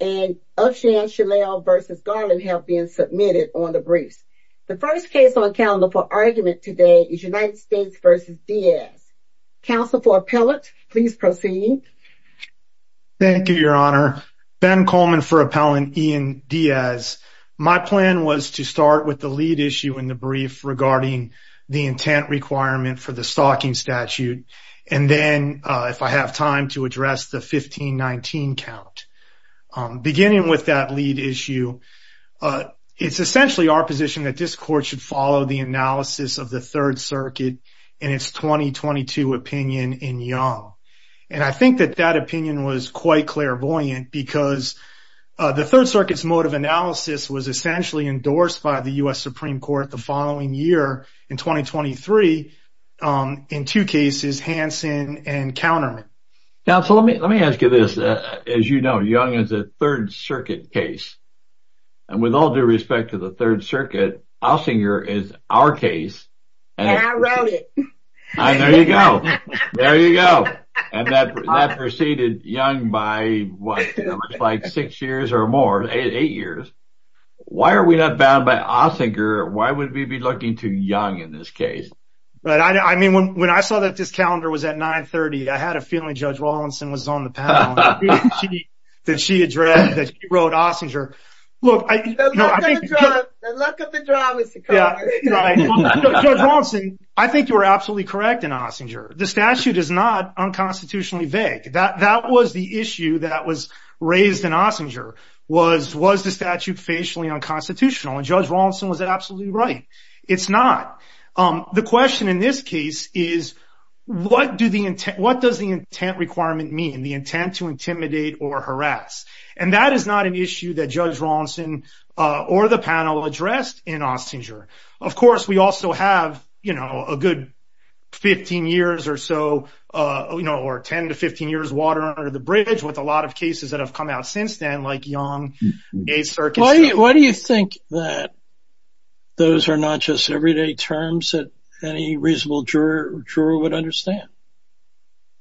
Ben Coleman for Appellant Ian Diaz. My plan was to start with the lead issue in the brief regarding the intent requirement for the stalking statute and then if I have time to address the 1519 count. Beginning with that lead issue, it's essentially our position that this court should follow the analysis of the Third Circuit in its 2022 opinion in Young. And I think that that opinion was quite clairvoyant because the Third Circuit's mode of analysis was essentially endorsed by the U.S. Supreme Court the following year in 2023 in two cases, Hansen and Counterman. Now, so let me let me ask you this. As you know, Young is a Third Circuit case. And with all due respect to the Third Circuit, Ossinger is our case. And I wrote it. There you go. There you go. And that preceded Young by what, like six years or more, eight years. Why are we not bound by Ossinger? Why would we be looking to Young in this case? But I mean, when I saw that this calendar was at 930, I had a feeling Judge Rawlinson was on the panel that she wrote Ossinger. Look, I think you're absolutely correct in Ossinger. The statute is not unconstitutionally vague. That that was the issue that was raised in Ossinger was was the statute facially unconstitutional. And Judge Rawlinson was absolutely right. It's not. The question in this case is, what do the intent? What does the intent requirement mean? The intent to intimidate or harass? And that is not an issue that Judge Rawlinson or the panel addressed in Ossinger. Of course, we also have, you know, a good 15 years or so, you know, or 10 to 15 years water under the bridge with a lot of cases that have come out since then, like Young. Why do you think that those are not just everyday terms that any reasonable juror or juror would understand?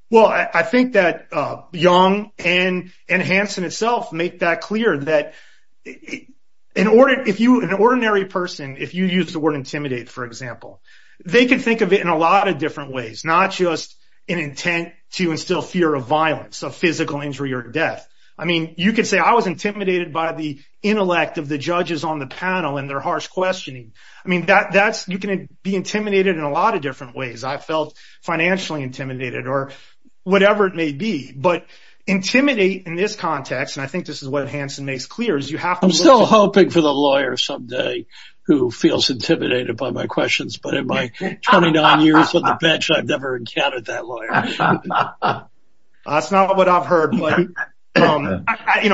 Well, I think that Young and Hanson itself make that clear that in order if you an ordinary person, if you use the word intimidate, for example, they can think of it in a lot of different ways, not just an intent to instill fear of violence, of physical injury or death. I mean, you could say I was intimidated by the intellect of the judges on the panel and their harsh questioning. I mean, that that's you can be intimidated in a lot of different ways. I felt financially intimidated or whatever it may be. But intimidate in this context, and I think this is what Hanson makes clear is you have to still hoping for the lawyer someday who feels intimidated by my questions. But in 29 years of the bench, I've never encountered that lawyer. That's not what I've heard. You know,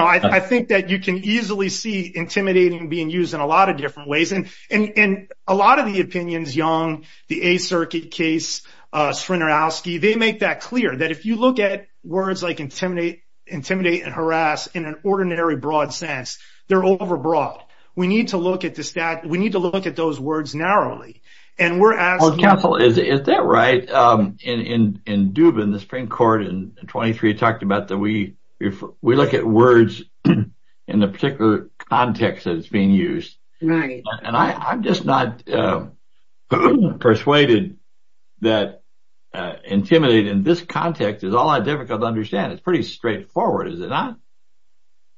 I think that you can easily see intimidating being used in a lot of different ways. And in a lot of the opinions, Young, the a circuit case, Srinirowski, they make that clear that if you look at words like intimidate, intimidate and harass in an ordinary broad sense, they're overbroad. We need to look at the stat. We need to look at those words narrowly. And we're asking, is that right? In Dubin, the Supreme Court in 23 talked about that. We we look at words in a particular context that's being used. And I'm just not persuaded that intimidate in this context is all I difficult to understand. It's pretty straightforward, is it not?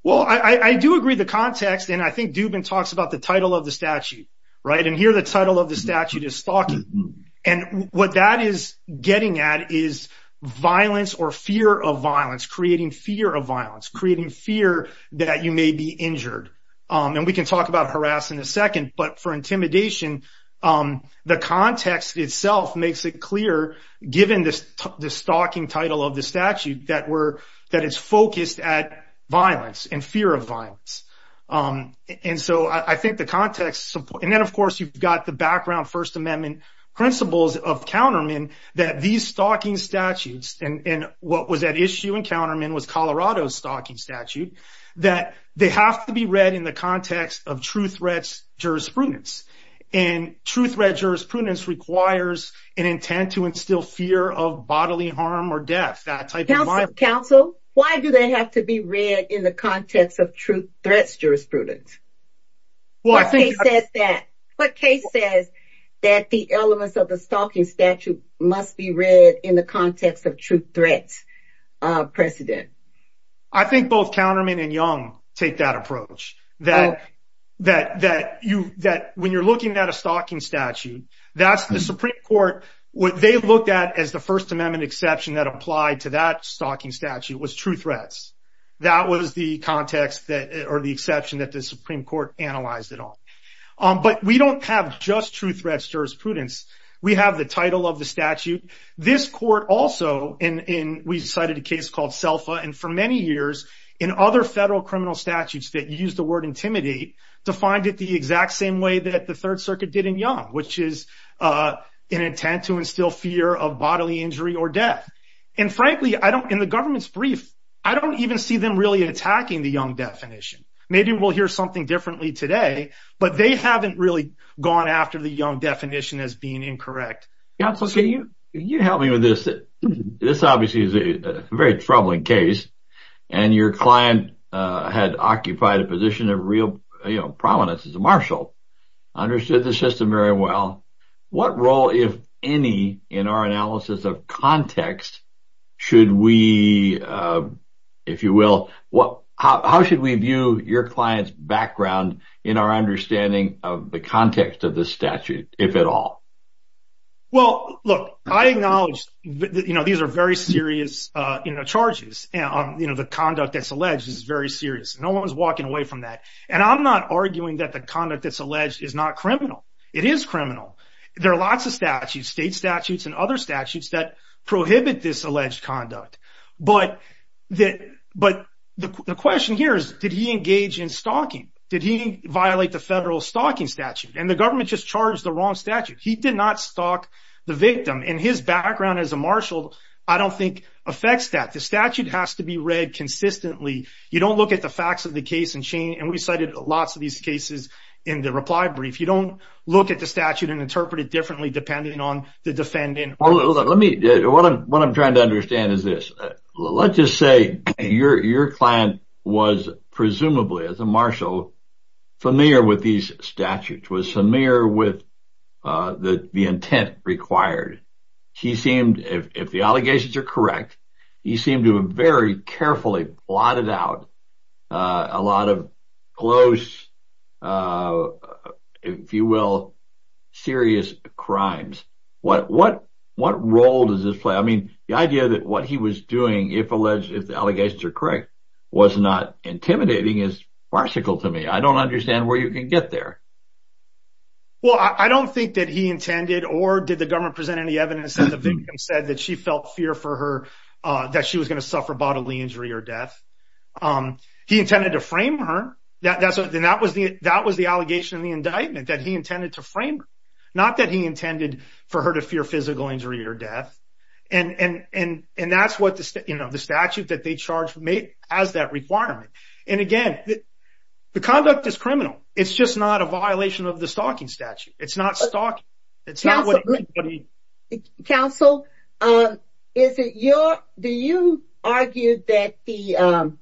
Well, I do agree the context. And I think Dubin talks about the title of the statute. Right. And here, the title of the statute is stalking. And what that is getting at is violence or fear of violence, creating fear of violence, creating fear that you may be injured. And we can talk about harass in a second. But for intimidation, the context itself makes it clear, given this the stalking title of the statute, that we're that it's focused at violence and fear of violence. And so I think the context. And then, of course, you've got the background First Amendment principles of countermen, that these stalking statutes and what was at issue in countermen was Colorado's stalking statute, that they have to be read in the context of true threats, jurisprudence and true threat. Jurisprudence requires an intent to instill fear of bodily harm or death that type of counsel. Why do they have to be read in the context of true threats? Jurisprudence? Well, I think that that case says that the elements of the stalking statute must be read in the context of true threats. Precedent. I think both countermen and young take that approach that that that you that when you're looking at a stalking statute, that's the Supreme Court, what they looked at as the First Amendment exception that applied to that stalking statute was true threats. That was the context that are the exception that the Supreme Court analyzed it all. But we don't have just true threats jurisprudence. We have the title of the statute. This court also in we cited a case called self and for many years in other federal criminal statutes that use the word intimidate to find it the exact same way that the Third Circuit did in young, which is an intent to instill fear of bodily injury or death. And frankly, I don't in the government's brief, I don't even see them really attacking the young definition. Maybe we'll hear something differently today. But they haven't really gone after the young definition as being correct. You help me with this. This obviously is a very troubling case. And your client had occupied a position of real prominence as a marshal, understood the system very well. What role if any, in our analysis of context, should we, if you will, what, how should we view your clients background, in our understanding of the context of the statute, if at all? Well, look, I acknowledge that, you know, these are very serious, you know, charges, you know, the conduct that's alleged is very serious. No one's walking away from that. And I'm not arguing that the conduct that's alleged is not criminal. It is criminal. There are lots of statutes, state statutes and other statutes that prohibit this alleged conduct. But the question here is, did he engage in stalking? Did he violate the federal stalking statute? And the government just charged the wrong statute. He did not stalk the victim. And his background as a marshal, I don't think affects that. The statute has to be read consistently. You don't look at the facts of the case and change. And we cited lots of these cases in the reply brief. You don't look at the statute and interpret it differently, depending on the defendant. Let me, what I'm trying to understand is this. Let's just say your client was presumably, as a marshal, familiar with these statutes, was familiar with the intent required. He seemed, if the allegations are correct, he seemed to have very carefully blotted out a lot of close, if you will, serious crimes. What role does this play? I mean, the idea that what he was doing, if alleged, if the allegations are correct, was not intimidating is farcical to me. I don't understand where you can get there. Well, I don't think that he intended, or did the government present any evidence that the victim said that she felt fear for her, that she was going to suffer bodily injury or death. He intended to frame her. That was the allegation in the indictment, that he intended to frame her. Not that he intended for her to fear physical injury or death. And that's what the statute that they charged made as that requirement. And again, the conduct is criminal. It's just not a violation of the stalking statute. It's not stalking. Counsel, is it your, do you argue that the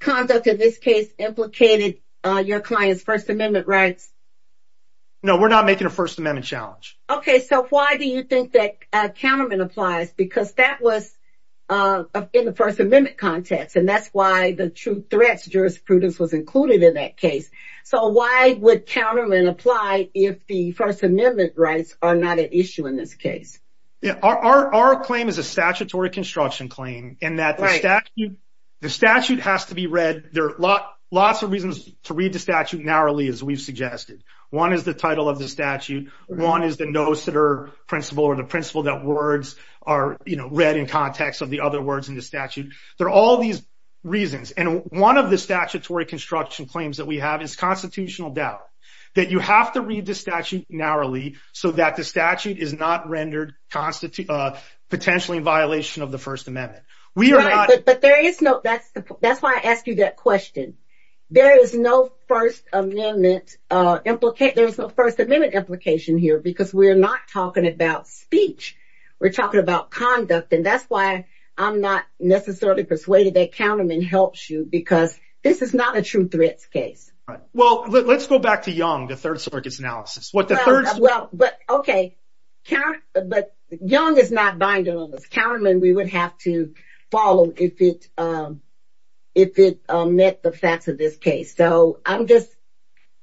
conduct of this case implicated your client's First Amendment rights? No, we're not making a First Amendment challenge. Okay, so why do you think that countermeasure applies? Because that was in the First Amendment context. And that's why the true threats jurisprudence was included in that case. So why would countermeasure apply if the First Amendment rights are not an issue in this case? Yeah, our claim is a statutory construction claim in that the statute has to be read. There are lots of reasons to read the statute narrowly, as we've suggested. One is the title of the statute. One is the no-sitter principle or the principle that words are, you know, read in context of the other words in the statute. There are all these reasons. And one of the statutory construction claims that we have is constitutional doubt. That you have to read the statute narrowly so that the statute is not rendered potentially in violation of the First Amendment. But there is no, that's, that's why I asked you that question. There is no First Amendment implication. There's no First Amendment implication here because we're not talking about speech. We're talking about conduct. And that's why I'm not necessarily persuaded that countermeasure helps you because this is not a true threats case. Right. Well, let's go back to Young, the Third Circuit's analysis. Well, but okay. But Young is not binding on this. Counterman, we would have to follow if it, if it met the facts of this case. So I'm just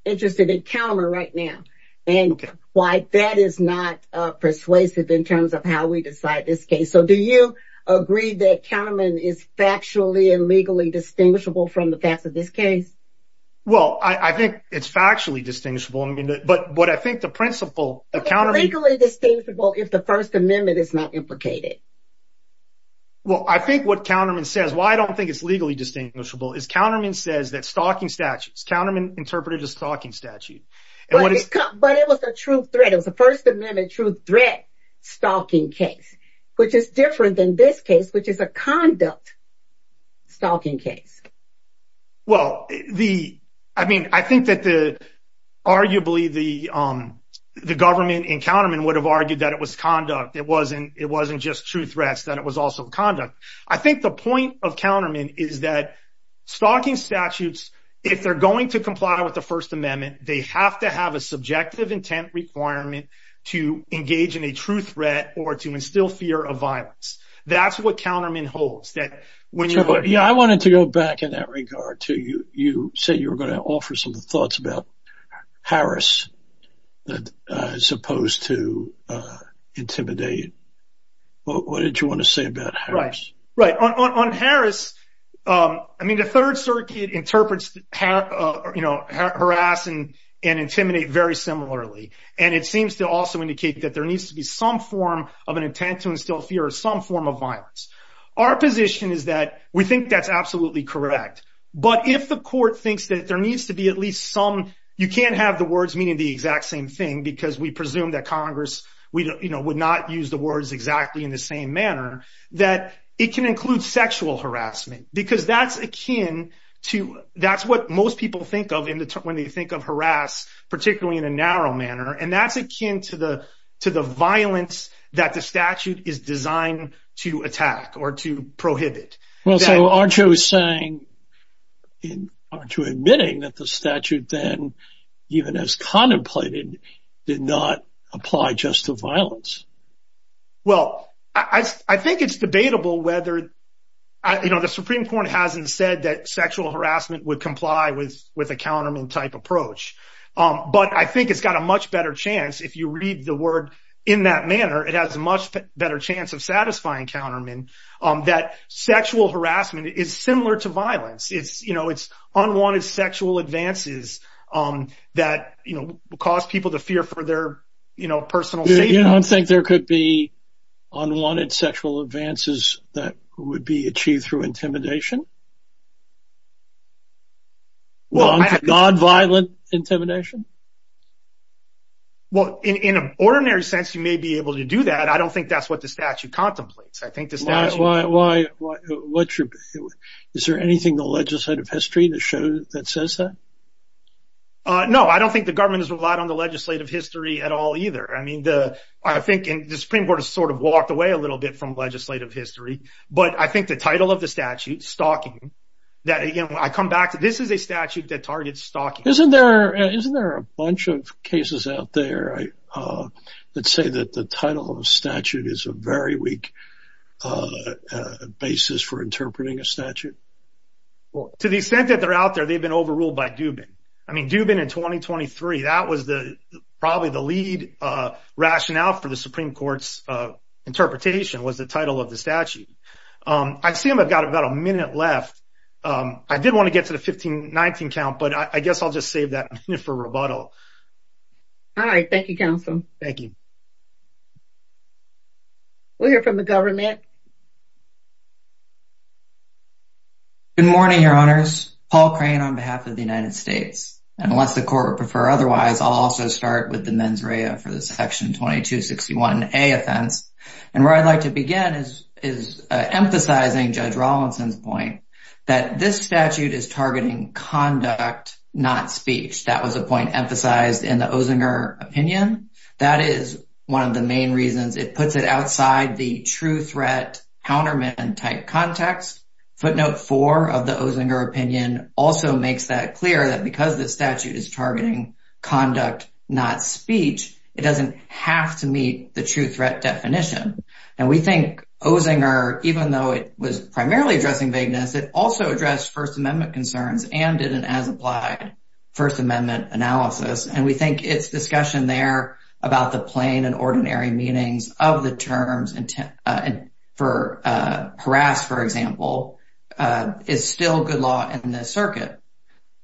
interested in Counterman right now and why that is not persuasive in terms of how we decide this case. So do you agree that Counterman is factually and legally distinguishable from the facts of this case? Well, I think it's factually distinguishable. I mean, but what I think the principle of countermeasure... It's legally distinguishable if the First Amendment is not implicated. Well, I think what Counterman says, why I don't think it's legally distinguishable is Counterman says that stalking statutes, Counterman interpreted a stalking statute. But it was a true threat. It was a First Amendment true threat stalking case, which is different than this case, which is a conduct stalking case. Well, the, I mean, I think that the arguably the, the government in Counterman would have argued that it was conduct. It wasn't, it wasn't just true threats, that it was also conduct. I think the point of Counterman is that stalking statutes, if they're going to comply with the First Amendment, they have to have a subjective intent requirement to engage in a true threat or to instill fear of violence. That's what Counterman holds that when you... Trevor, yeah, I wanted to go back in that regard to you, you said you were going to offer some thoughts about Harris, as opposed to intimidate. What did you want to say about Harris? Right. On Harris, I mean, the Third Circuit interprets, you know, harass and intimidate very similarly. And it seems to also indicate that there needs to be some form of an intent to instill fear of some form of violence. Our position is that we think that's absolutely correct. But if the court thinks that there needs to be at least some, you can't have the words meaning the exact same thing, because we presume that Congress, we, you know, would not use the words exactly in the same manner, that it can include sexual harassment, because that's akin to, that's what most people think of in the, when they think of harass, particularly in a narrow manner. And that's akin to the violence that the statute is designed to attack or to prohibit. Well, so aren't you saying, aren't you admitting that the statute then, even as contemplated, did not apply just to violence? Well, I think it's debatable whether, you know, the Supreme Court hasn't said that sexual harassment would comply with a statute. But I think it has a much better chance, if you read the word in that manner, it has a much better chance of satisfying countermen, that sexual harassment is similar to violence. It's, you know, it's unwanted sexual advances that, you know, cause people to fear for their, you know, personal safety. You don't think there could be unwanted sexual advances that would be achieved through intimidation? Well, non-violent intimidation? Well, in an ordinary sense, you may be able to do that. I don't think that's what the statute contemplates. I think the statute... Why, why, why, what's your, is there anything in the legislative history that shows, that says that? No, I don't think the government has relied on the legislative history at all, either. I mean, the, I think the Supreme Court has sort of walked away a little bit from legislative history. But I think the title of the statute, stalking, stalking, stalking, stalking, that, you know, I come back to, this is a statute that targets stalking. Isn't there, isn't there a bunch of cases out there that say that the title of a statute is a very weak basis for interpreting a statute? Well, to the extent that they're out there, they've been overruled by Dubin. I mean, Dubin in 2023, that was the, probably the lead rationale for the Supreme Court's interpretation was the title of the statute. I assume I've got about a minute left. I did want to get to the 1519 count, but I guess I'll just save that minute for rebuttal. All right. Thank you, counsel. Thank you. We'll hear from the government. Good morning, your honors. Paul Crane on behalf of the United States. And unless the court would prefer otherwise, I'll also start with the mens rea for the section 2261A offense. And where I'd like to begin is, is emphasizing Judge Rawlinson's point that this statute is targeting conduct, not speech. That was a point emphasized in the Ozinger opinion. That is one of the main reasons. It puts it outside the true threat counterman type context. Footnote four of the Ozinger opinion also makes that clear that because the statute is targeting conduct, not speech, it doesn't have to meet the true threat definition. And we think Ozinger, even though it was primarily addressing vagueness, it also addressed First Amendment concerns and did an as applied First Amendment analysis. And we think it's discussion there about the plain and ordinary meanings of the terms and for harass, for example, is still good law in this circuit.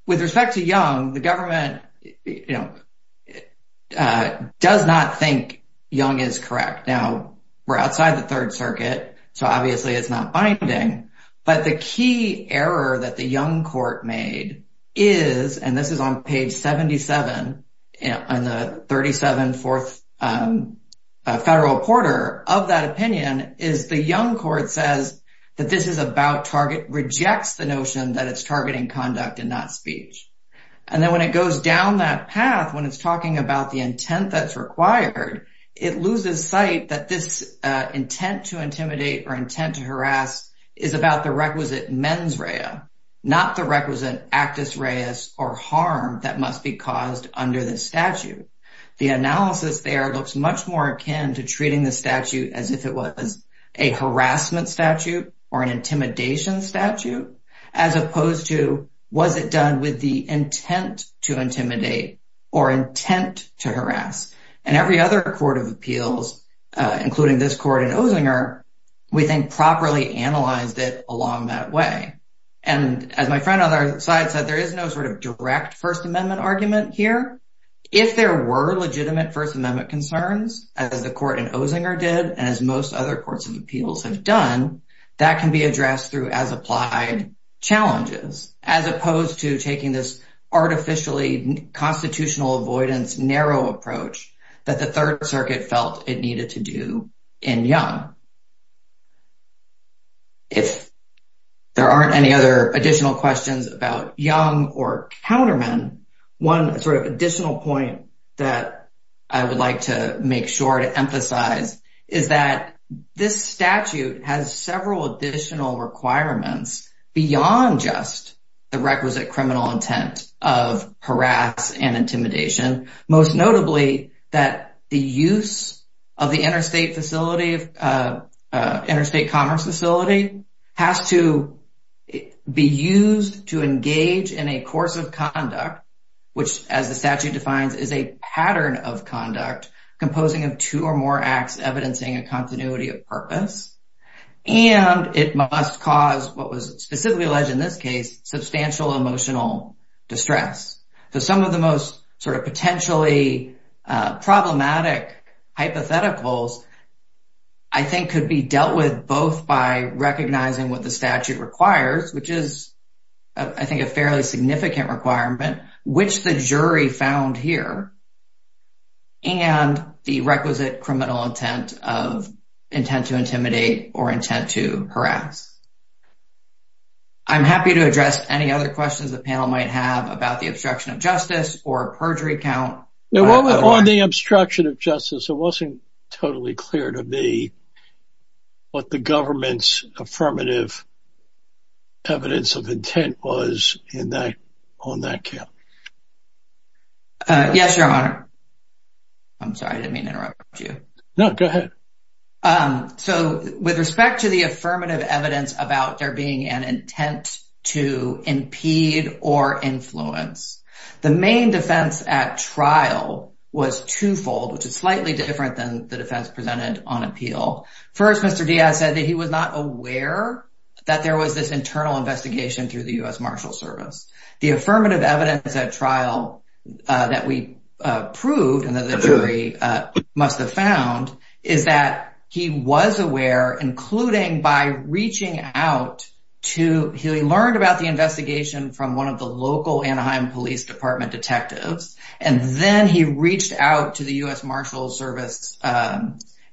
With respect to Young, the government, you know, does not think Young is correct. Now, we're outside the Third Circuit, so obviously it's not binding. But the key error that the Young court made is, and this is on page 77 on the 37th federal quarter of that opinion, is the Young court says that this is about target, rejects the notion that it's targeting conduct and not speech. And then when it goes down that path, when it's talking about the intent that's required, it loses sight that this intent to intimidate or intent to harass is about the requisite mens rea, not the requisite actus reus or harm that must be caused under the statute. The analysis there looks much more akin to treating the statute as if it was a harassment statute or an intimidation statute, as opposed to was it done with the intent to intimidate or intent to harass. And every other court of appeals, including this court in Ozinger, we think properly analyzed it along that way. And as my friend on our side said, there is no sort of direct First Amendment argument here. If there were legitimate First Amendment concerns, as the court in Ozinger did, and as most other courts of appeals have done, that can be addressed through as applied challenges, as opposed to taking this artificially constitutional avoidance narrow approach that the Third Circuit felt it needed to do in Young. If there aren't any other additional questions about Young or Counterman, one sort of additional point that I would like to make sure to emphasize is that this statute has several additional requirements beyond just the requisite criminal intent of harass and intimidation, most notably, that the use of the interstate facility has to do with the intent to harass. Interstate commerce facility has to be used to engage in a course of conduct, which, as the statute defines, is a pattern of conduct, composing of two or more acts, evidencing a continuity of purpose. And it must cause what was specifically alleged in this case, substantial emotional distress. So some of the most sort of potentially problematic hypotheticals, I think, could be dealt with both by recognizing what the statute requires, which is, I think, a fairly significant requirement, which the jury found here, and the requisite criminal intent of intent to intimidate or intent to harass. I'm happy to address any other questions the panel might have about the obstruction of justice or perjury count. On the obstruction of justice, it wasn't totally clear to me what the government's affirmative evidence of intent was on that count. Yes, Your Honor. I'm sorry, I didn't mean to interrupt you. No, go ahead. So with respect to the affirmative evidence about there being an intent to impede or influence, the main defense at trial was twofold, which is slightly different than the defense presented on appeal. First, Mr. Diaz said that he was not aware that there was this internal investigation through the U.S. Marshal Service. The affirmative evidence at trial that we proved and that the jury must have found is that he was aware, including by reaching out to—he learned about the investigation from one of the local Anaheim Police Department detectives, and then he reached out to the U.S. Marshal Service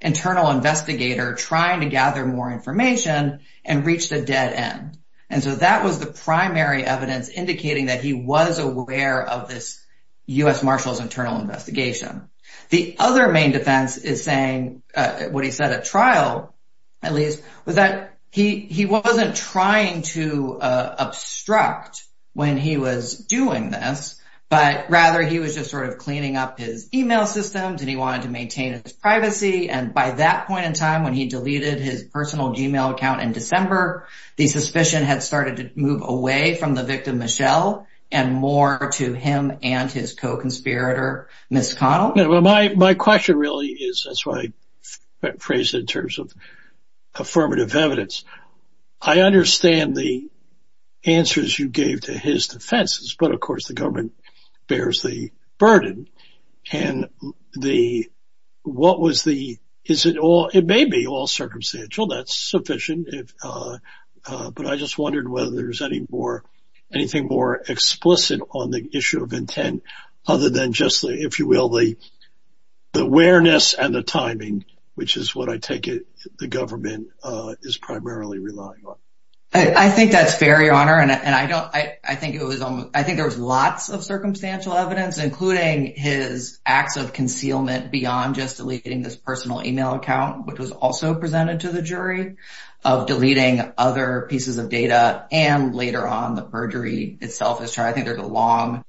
internal investigator trying to gather more information and reached a dead end. And so that was the primary evidence indicating that he was aware of this U.S. Marshal's internal investigation. The other main defense is saying, what he said at trial, at least, was that he wasn't trying to obstruct when he was doing this, but rather he was just sort of cleaning up his email systems and he wanted to maintain his privacy. And by that point in time, when he deleted his personal email account in December, the suspicion had started to move away from the victim, Michelle, and more to him and his co-conspirator, Ms. Connell. My question really is—that's why I phrased it in terms of affirmative evidence. I understand the answers you gave to his defenses, but of course the government bears the burden. And what was the—is it all—it may be all circumstantial. That's sufficient. But I just wondered whether there's any more—anything more explicit on the issue of intent other than just the, if you will, the awareness and the timing, which is what I take it the government is primarily relying on. I think that's fair, Your Honor. And I don't—I think it was almost—I think there was lots of circumstantial evidence, including his acts of concealment beyond just deleting this personal email account, which was also presented to the jury, of deleting other pieces of data, and later on the perjury itself. I think there's a long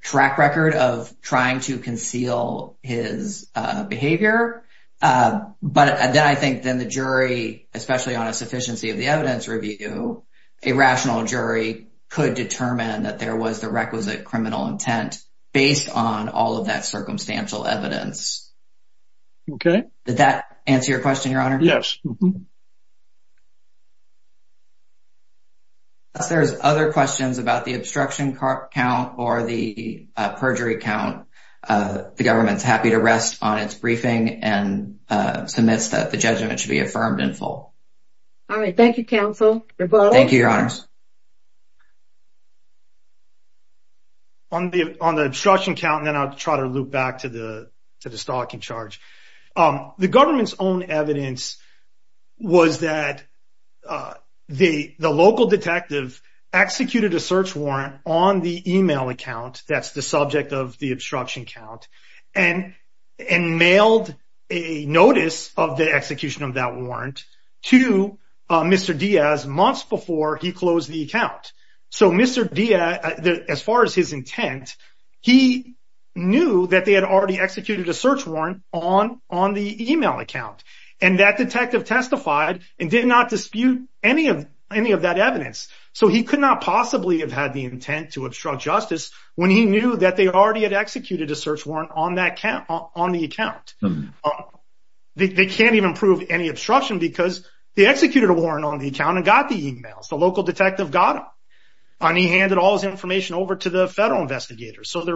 track record of trying to conceal his behavior. But then I think then the jury, especially on a sufficiency of the evidence review, a rational jury could determine that there was the requisite criminal intent based on all of that circumstantial evidence. Okay. Did that answer your question, Your Honor? Yes. If there's other questions about the obstruction count or the perjury count, the government's happy to rest on its briefing and submits that the judgment should be affirmed in full. All right. Thank you, counsel. Thank you, Your Honors. On the obstruction count, and then I'll try to loop back to the stalking charge. The government's own evidence was that the local detective executed a search warrant on the email account—that's the subject of the obstruction count—and mailed a notice of the execution of that warrant to Mr. Diaz months before he closed the account. So Mr. Diaz, as far as his intent, he knew that they had already executed a search warrant on the email account. And that detective testified and did not dispute any of that evidence. So he could not possibly have had the intent to obstruct justice when he knew that they already had executed a search warrant on the account. They can't even prove any obstruction because they executed a warrant on the account and got the emails. The local detective got them, and he handed all his information over to the federal investigators. Is that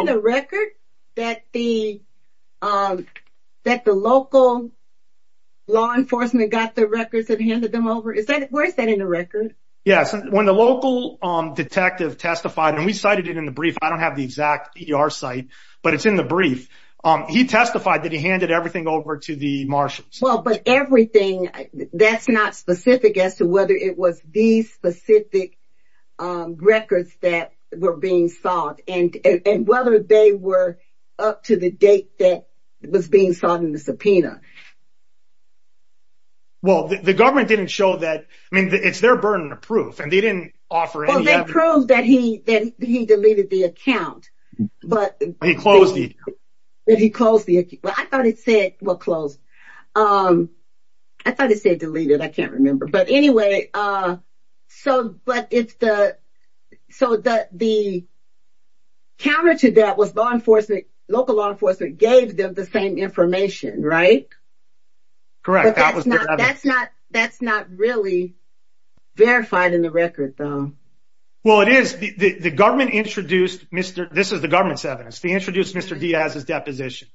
in the record that the local law enforcement got the records and handed them over? Where is that in the record? Yes. When the local detective testified—and we cited it in the brief, I don't have the exact ER site, but it's in the brief—he testified that he handed everything over to the marshals. But everything—that's not specific as to whether it was these specific records that were being sought, and whether they were up to the date that was being sought in the subpoena. Well, the government didn't show that—I mean, it's their burden of proof, and they didn't offer any evidence. Well, they proved that he deleted the account. But— He closed it. He closed the account. I thought it said, well, closed. I thought it said deleted. I can't remember. But anyway, so the counter to that was law enforcement—local law enforcement gave them the same information, right? Correct. But that's not really verified in the record, though. Well, it is. This is the government's evidence. They introduced Mr. Diaz's deposition.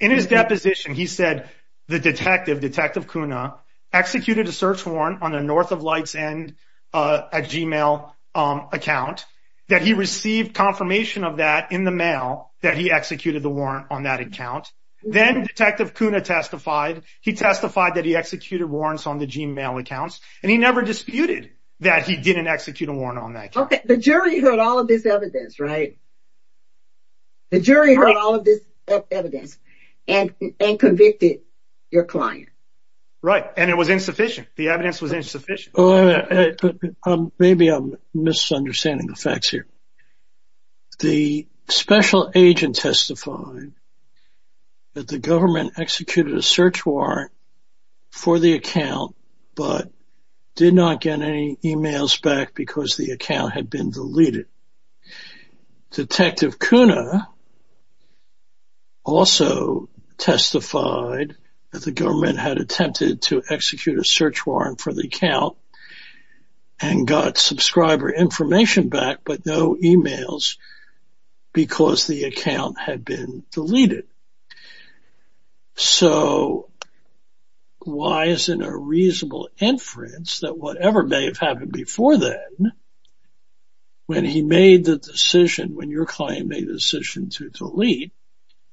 In his deposition, he said the detective, Detective Cunha, executed a search warrant on the North of Lights End Gmail account, that he received confirmation of that in the mail that he executed the warrant on that account. Then Detective Cunha testified. He testified that he executed warrants on the Gmail accounts, and he never disputed that he didn't execute a warrant on that account. Okay. The jury heard all of this evidence, right? The jury heard all of this evidence and convicted your client. Right. And it was insufficient. The evidence was insufficient. Maybe I'm misunderstanding the facts here. The special agent testified that the government executed a search warrant for the account, but did not get any emails back because the account had been deleted. Detective Cunha also testified that the government had attempted to execute a search warrant for the account, and got subscriber information back, but no emails because the account had been deleted. So, why is it a reasonable inference that whatever may have happened before that, when he made the decision, when your client made the decision to delete,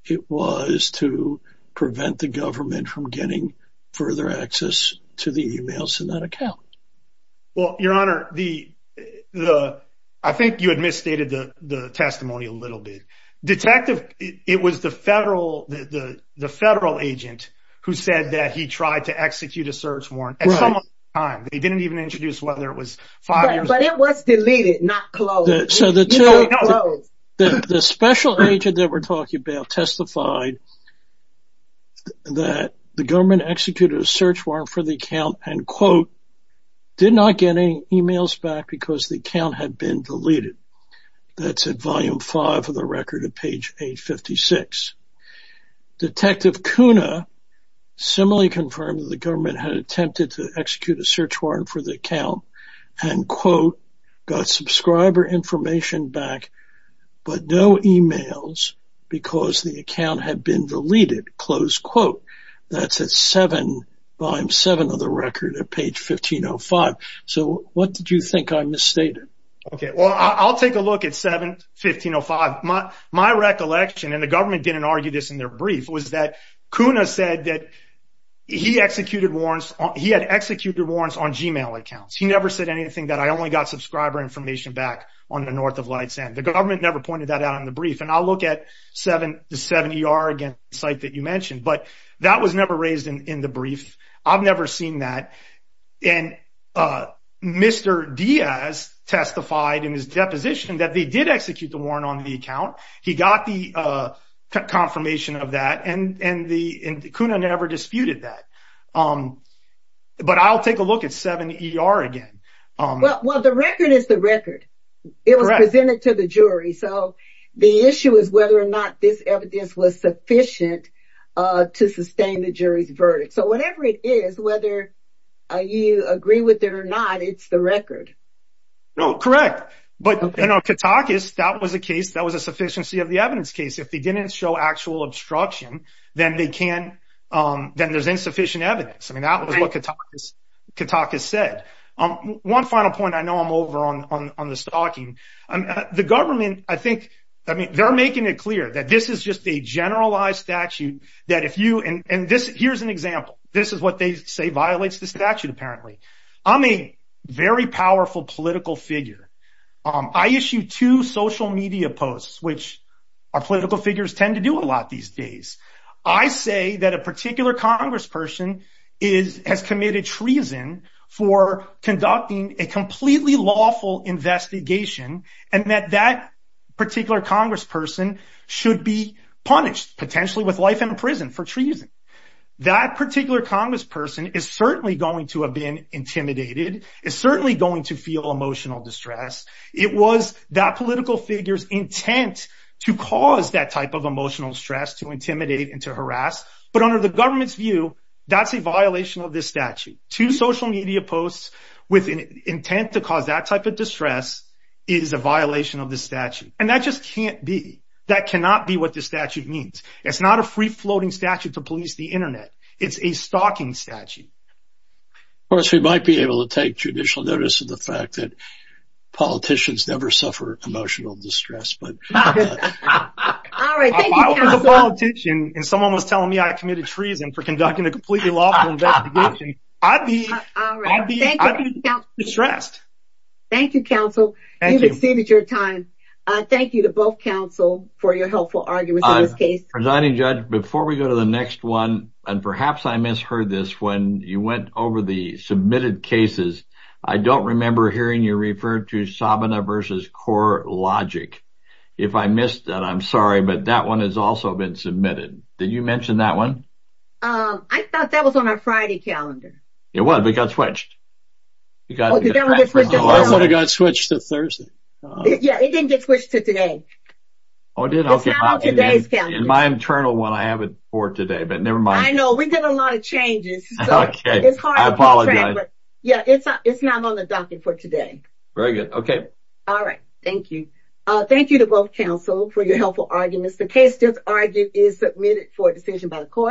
it was to prevent the government from getting further access to the emails in that account? Well, Your Honor, I think you had misstated the testimony a little bit. Detective, it was the federal agent who said that he tried to execute a search warrant at some other time. He didn't even introduce whether it was five years ago. But it was deleted, not closed. So, the special agent that we're talking about testified that the government executed a search warrant for the account, and quote, did not get any emails back because the account had been deleted. That's at volume five of the record at page 856. Detective Cunha similarly confirmed that the government had attempted to execute a search warrant for the account, and quote, got subscriber information back, but no emails because the account had been deleted, close quote. That's at seven, volume seven of the record at page 1505. So, what did you think I misstated? Okay, well, I'll take a look at seven, 1505. My recollection, and the government didn't argue this in their brief, was that Cunha said that he had executed warrants on Gmail accounts. He never said anything that I only got subscriber information back on the North of Lights End. The government never pointed that out in the brief. And I'll look at the 7ER again, the site that you mentioned. But that was never raised in the brief. I've never seen that. And Mr. Diaz testified in his deposition that they did execute the warrant on the account. He got the confirmation of that, and Cunha never disputed that. But I'll take a look at 7ER again. Well, the record is the record. It was presented to the jury. So, the issue is whether or not this evidence was sufficient to sustain the jury's verdict. So, whatever it is, whether you agree with it or not, it's the record. No, correct. But, you know, Katakis, that was a case, that was a sufficiency of the evidence case. If they didn't show actual obstruction, then they can, then there's insufficient evidence. I mean, that was what Katakis said. One final point, I know I'm over on the stalking. The government, I think, I mean, they're making it clear that this is just a generalized statute that if you, and this, here's an example. This is what they say violates the statute, apparently. I'm a very powerful political figure. I issue two social media posts, which our political figures tend to do a lot these days. I say that a particular congressperson has committed treason for conducting a completely lawful investigation, and that that particular congressperson should be punished, potentially with life in prison for treason. That particular congressperson is certainly going to have been intimidated, is certainly going to feel emotional distress. It was that political figure's intent to cause that type of emotional stress, to intimidate and to harass. But under the government's view, that's a violation of this statute. Two social media posts with an intent to cause that type of distress is a violation of the statute, and that just can't be. That cannot be what the statute means. It's not a free-floating statute to police the internet. It's a stalking statute. Of course, we might be able to take judicial notice of the fact that politicians never suffer emotional distress. But if I was a politician and someone was telling me I committed treason for conducting a completely lawful investigation, I'd be distressed. Thank you, counsel. You've exceeded your time. Thank you to both counsel for your helpful arguments in this case. Presiding Judge, before we go to the next one, and perhaps I misheard this when you went over the submitted cases, I don't remember hearing you refer to Sabana v. CoreLogic. If I missed that, I'm sorry, but that one has also been submitted. Did you mention that one? I thought that was on our Friday calendar. It was, but it got switched. Oh, that's when it got switched to Thursday. Yeah, it didn't get switched to today. Oh, it did? It's not on today's calendar. In my internal one, I have it for today, but never mind. I know, we did a lot of changes. Okay, I apologize. Yeah, it's not on the docket for today. Very good, okay. All right, thank you. Thank you to both counsel for your helpful arguments. The case just argued is submitted for a decision by the court.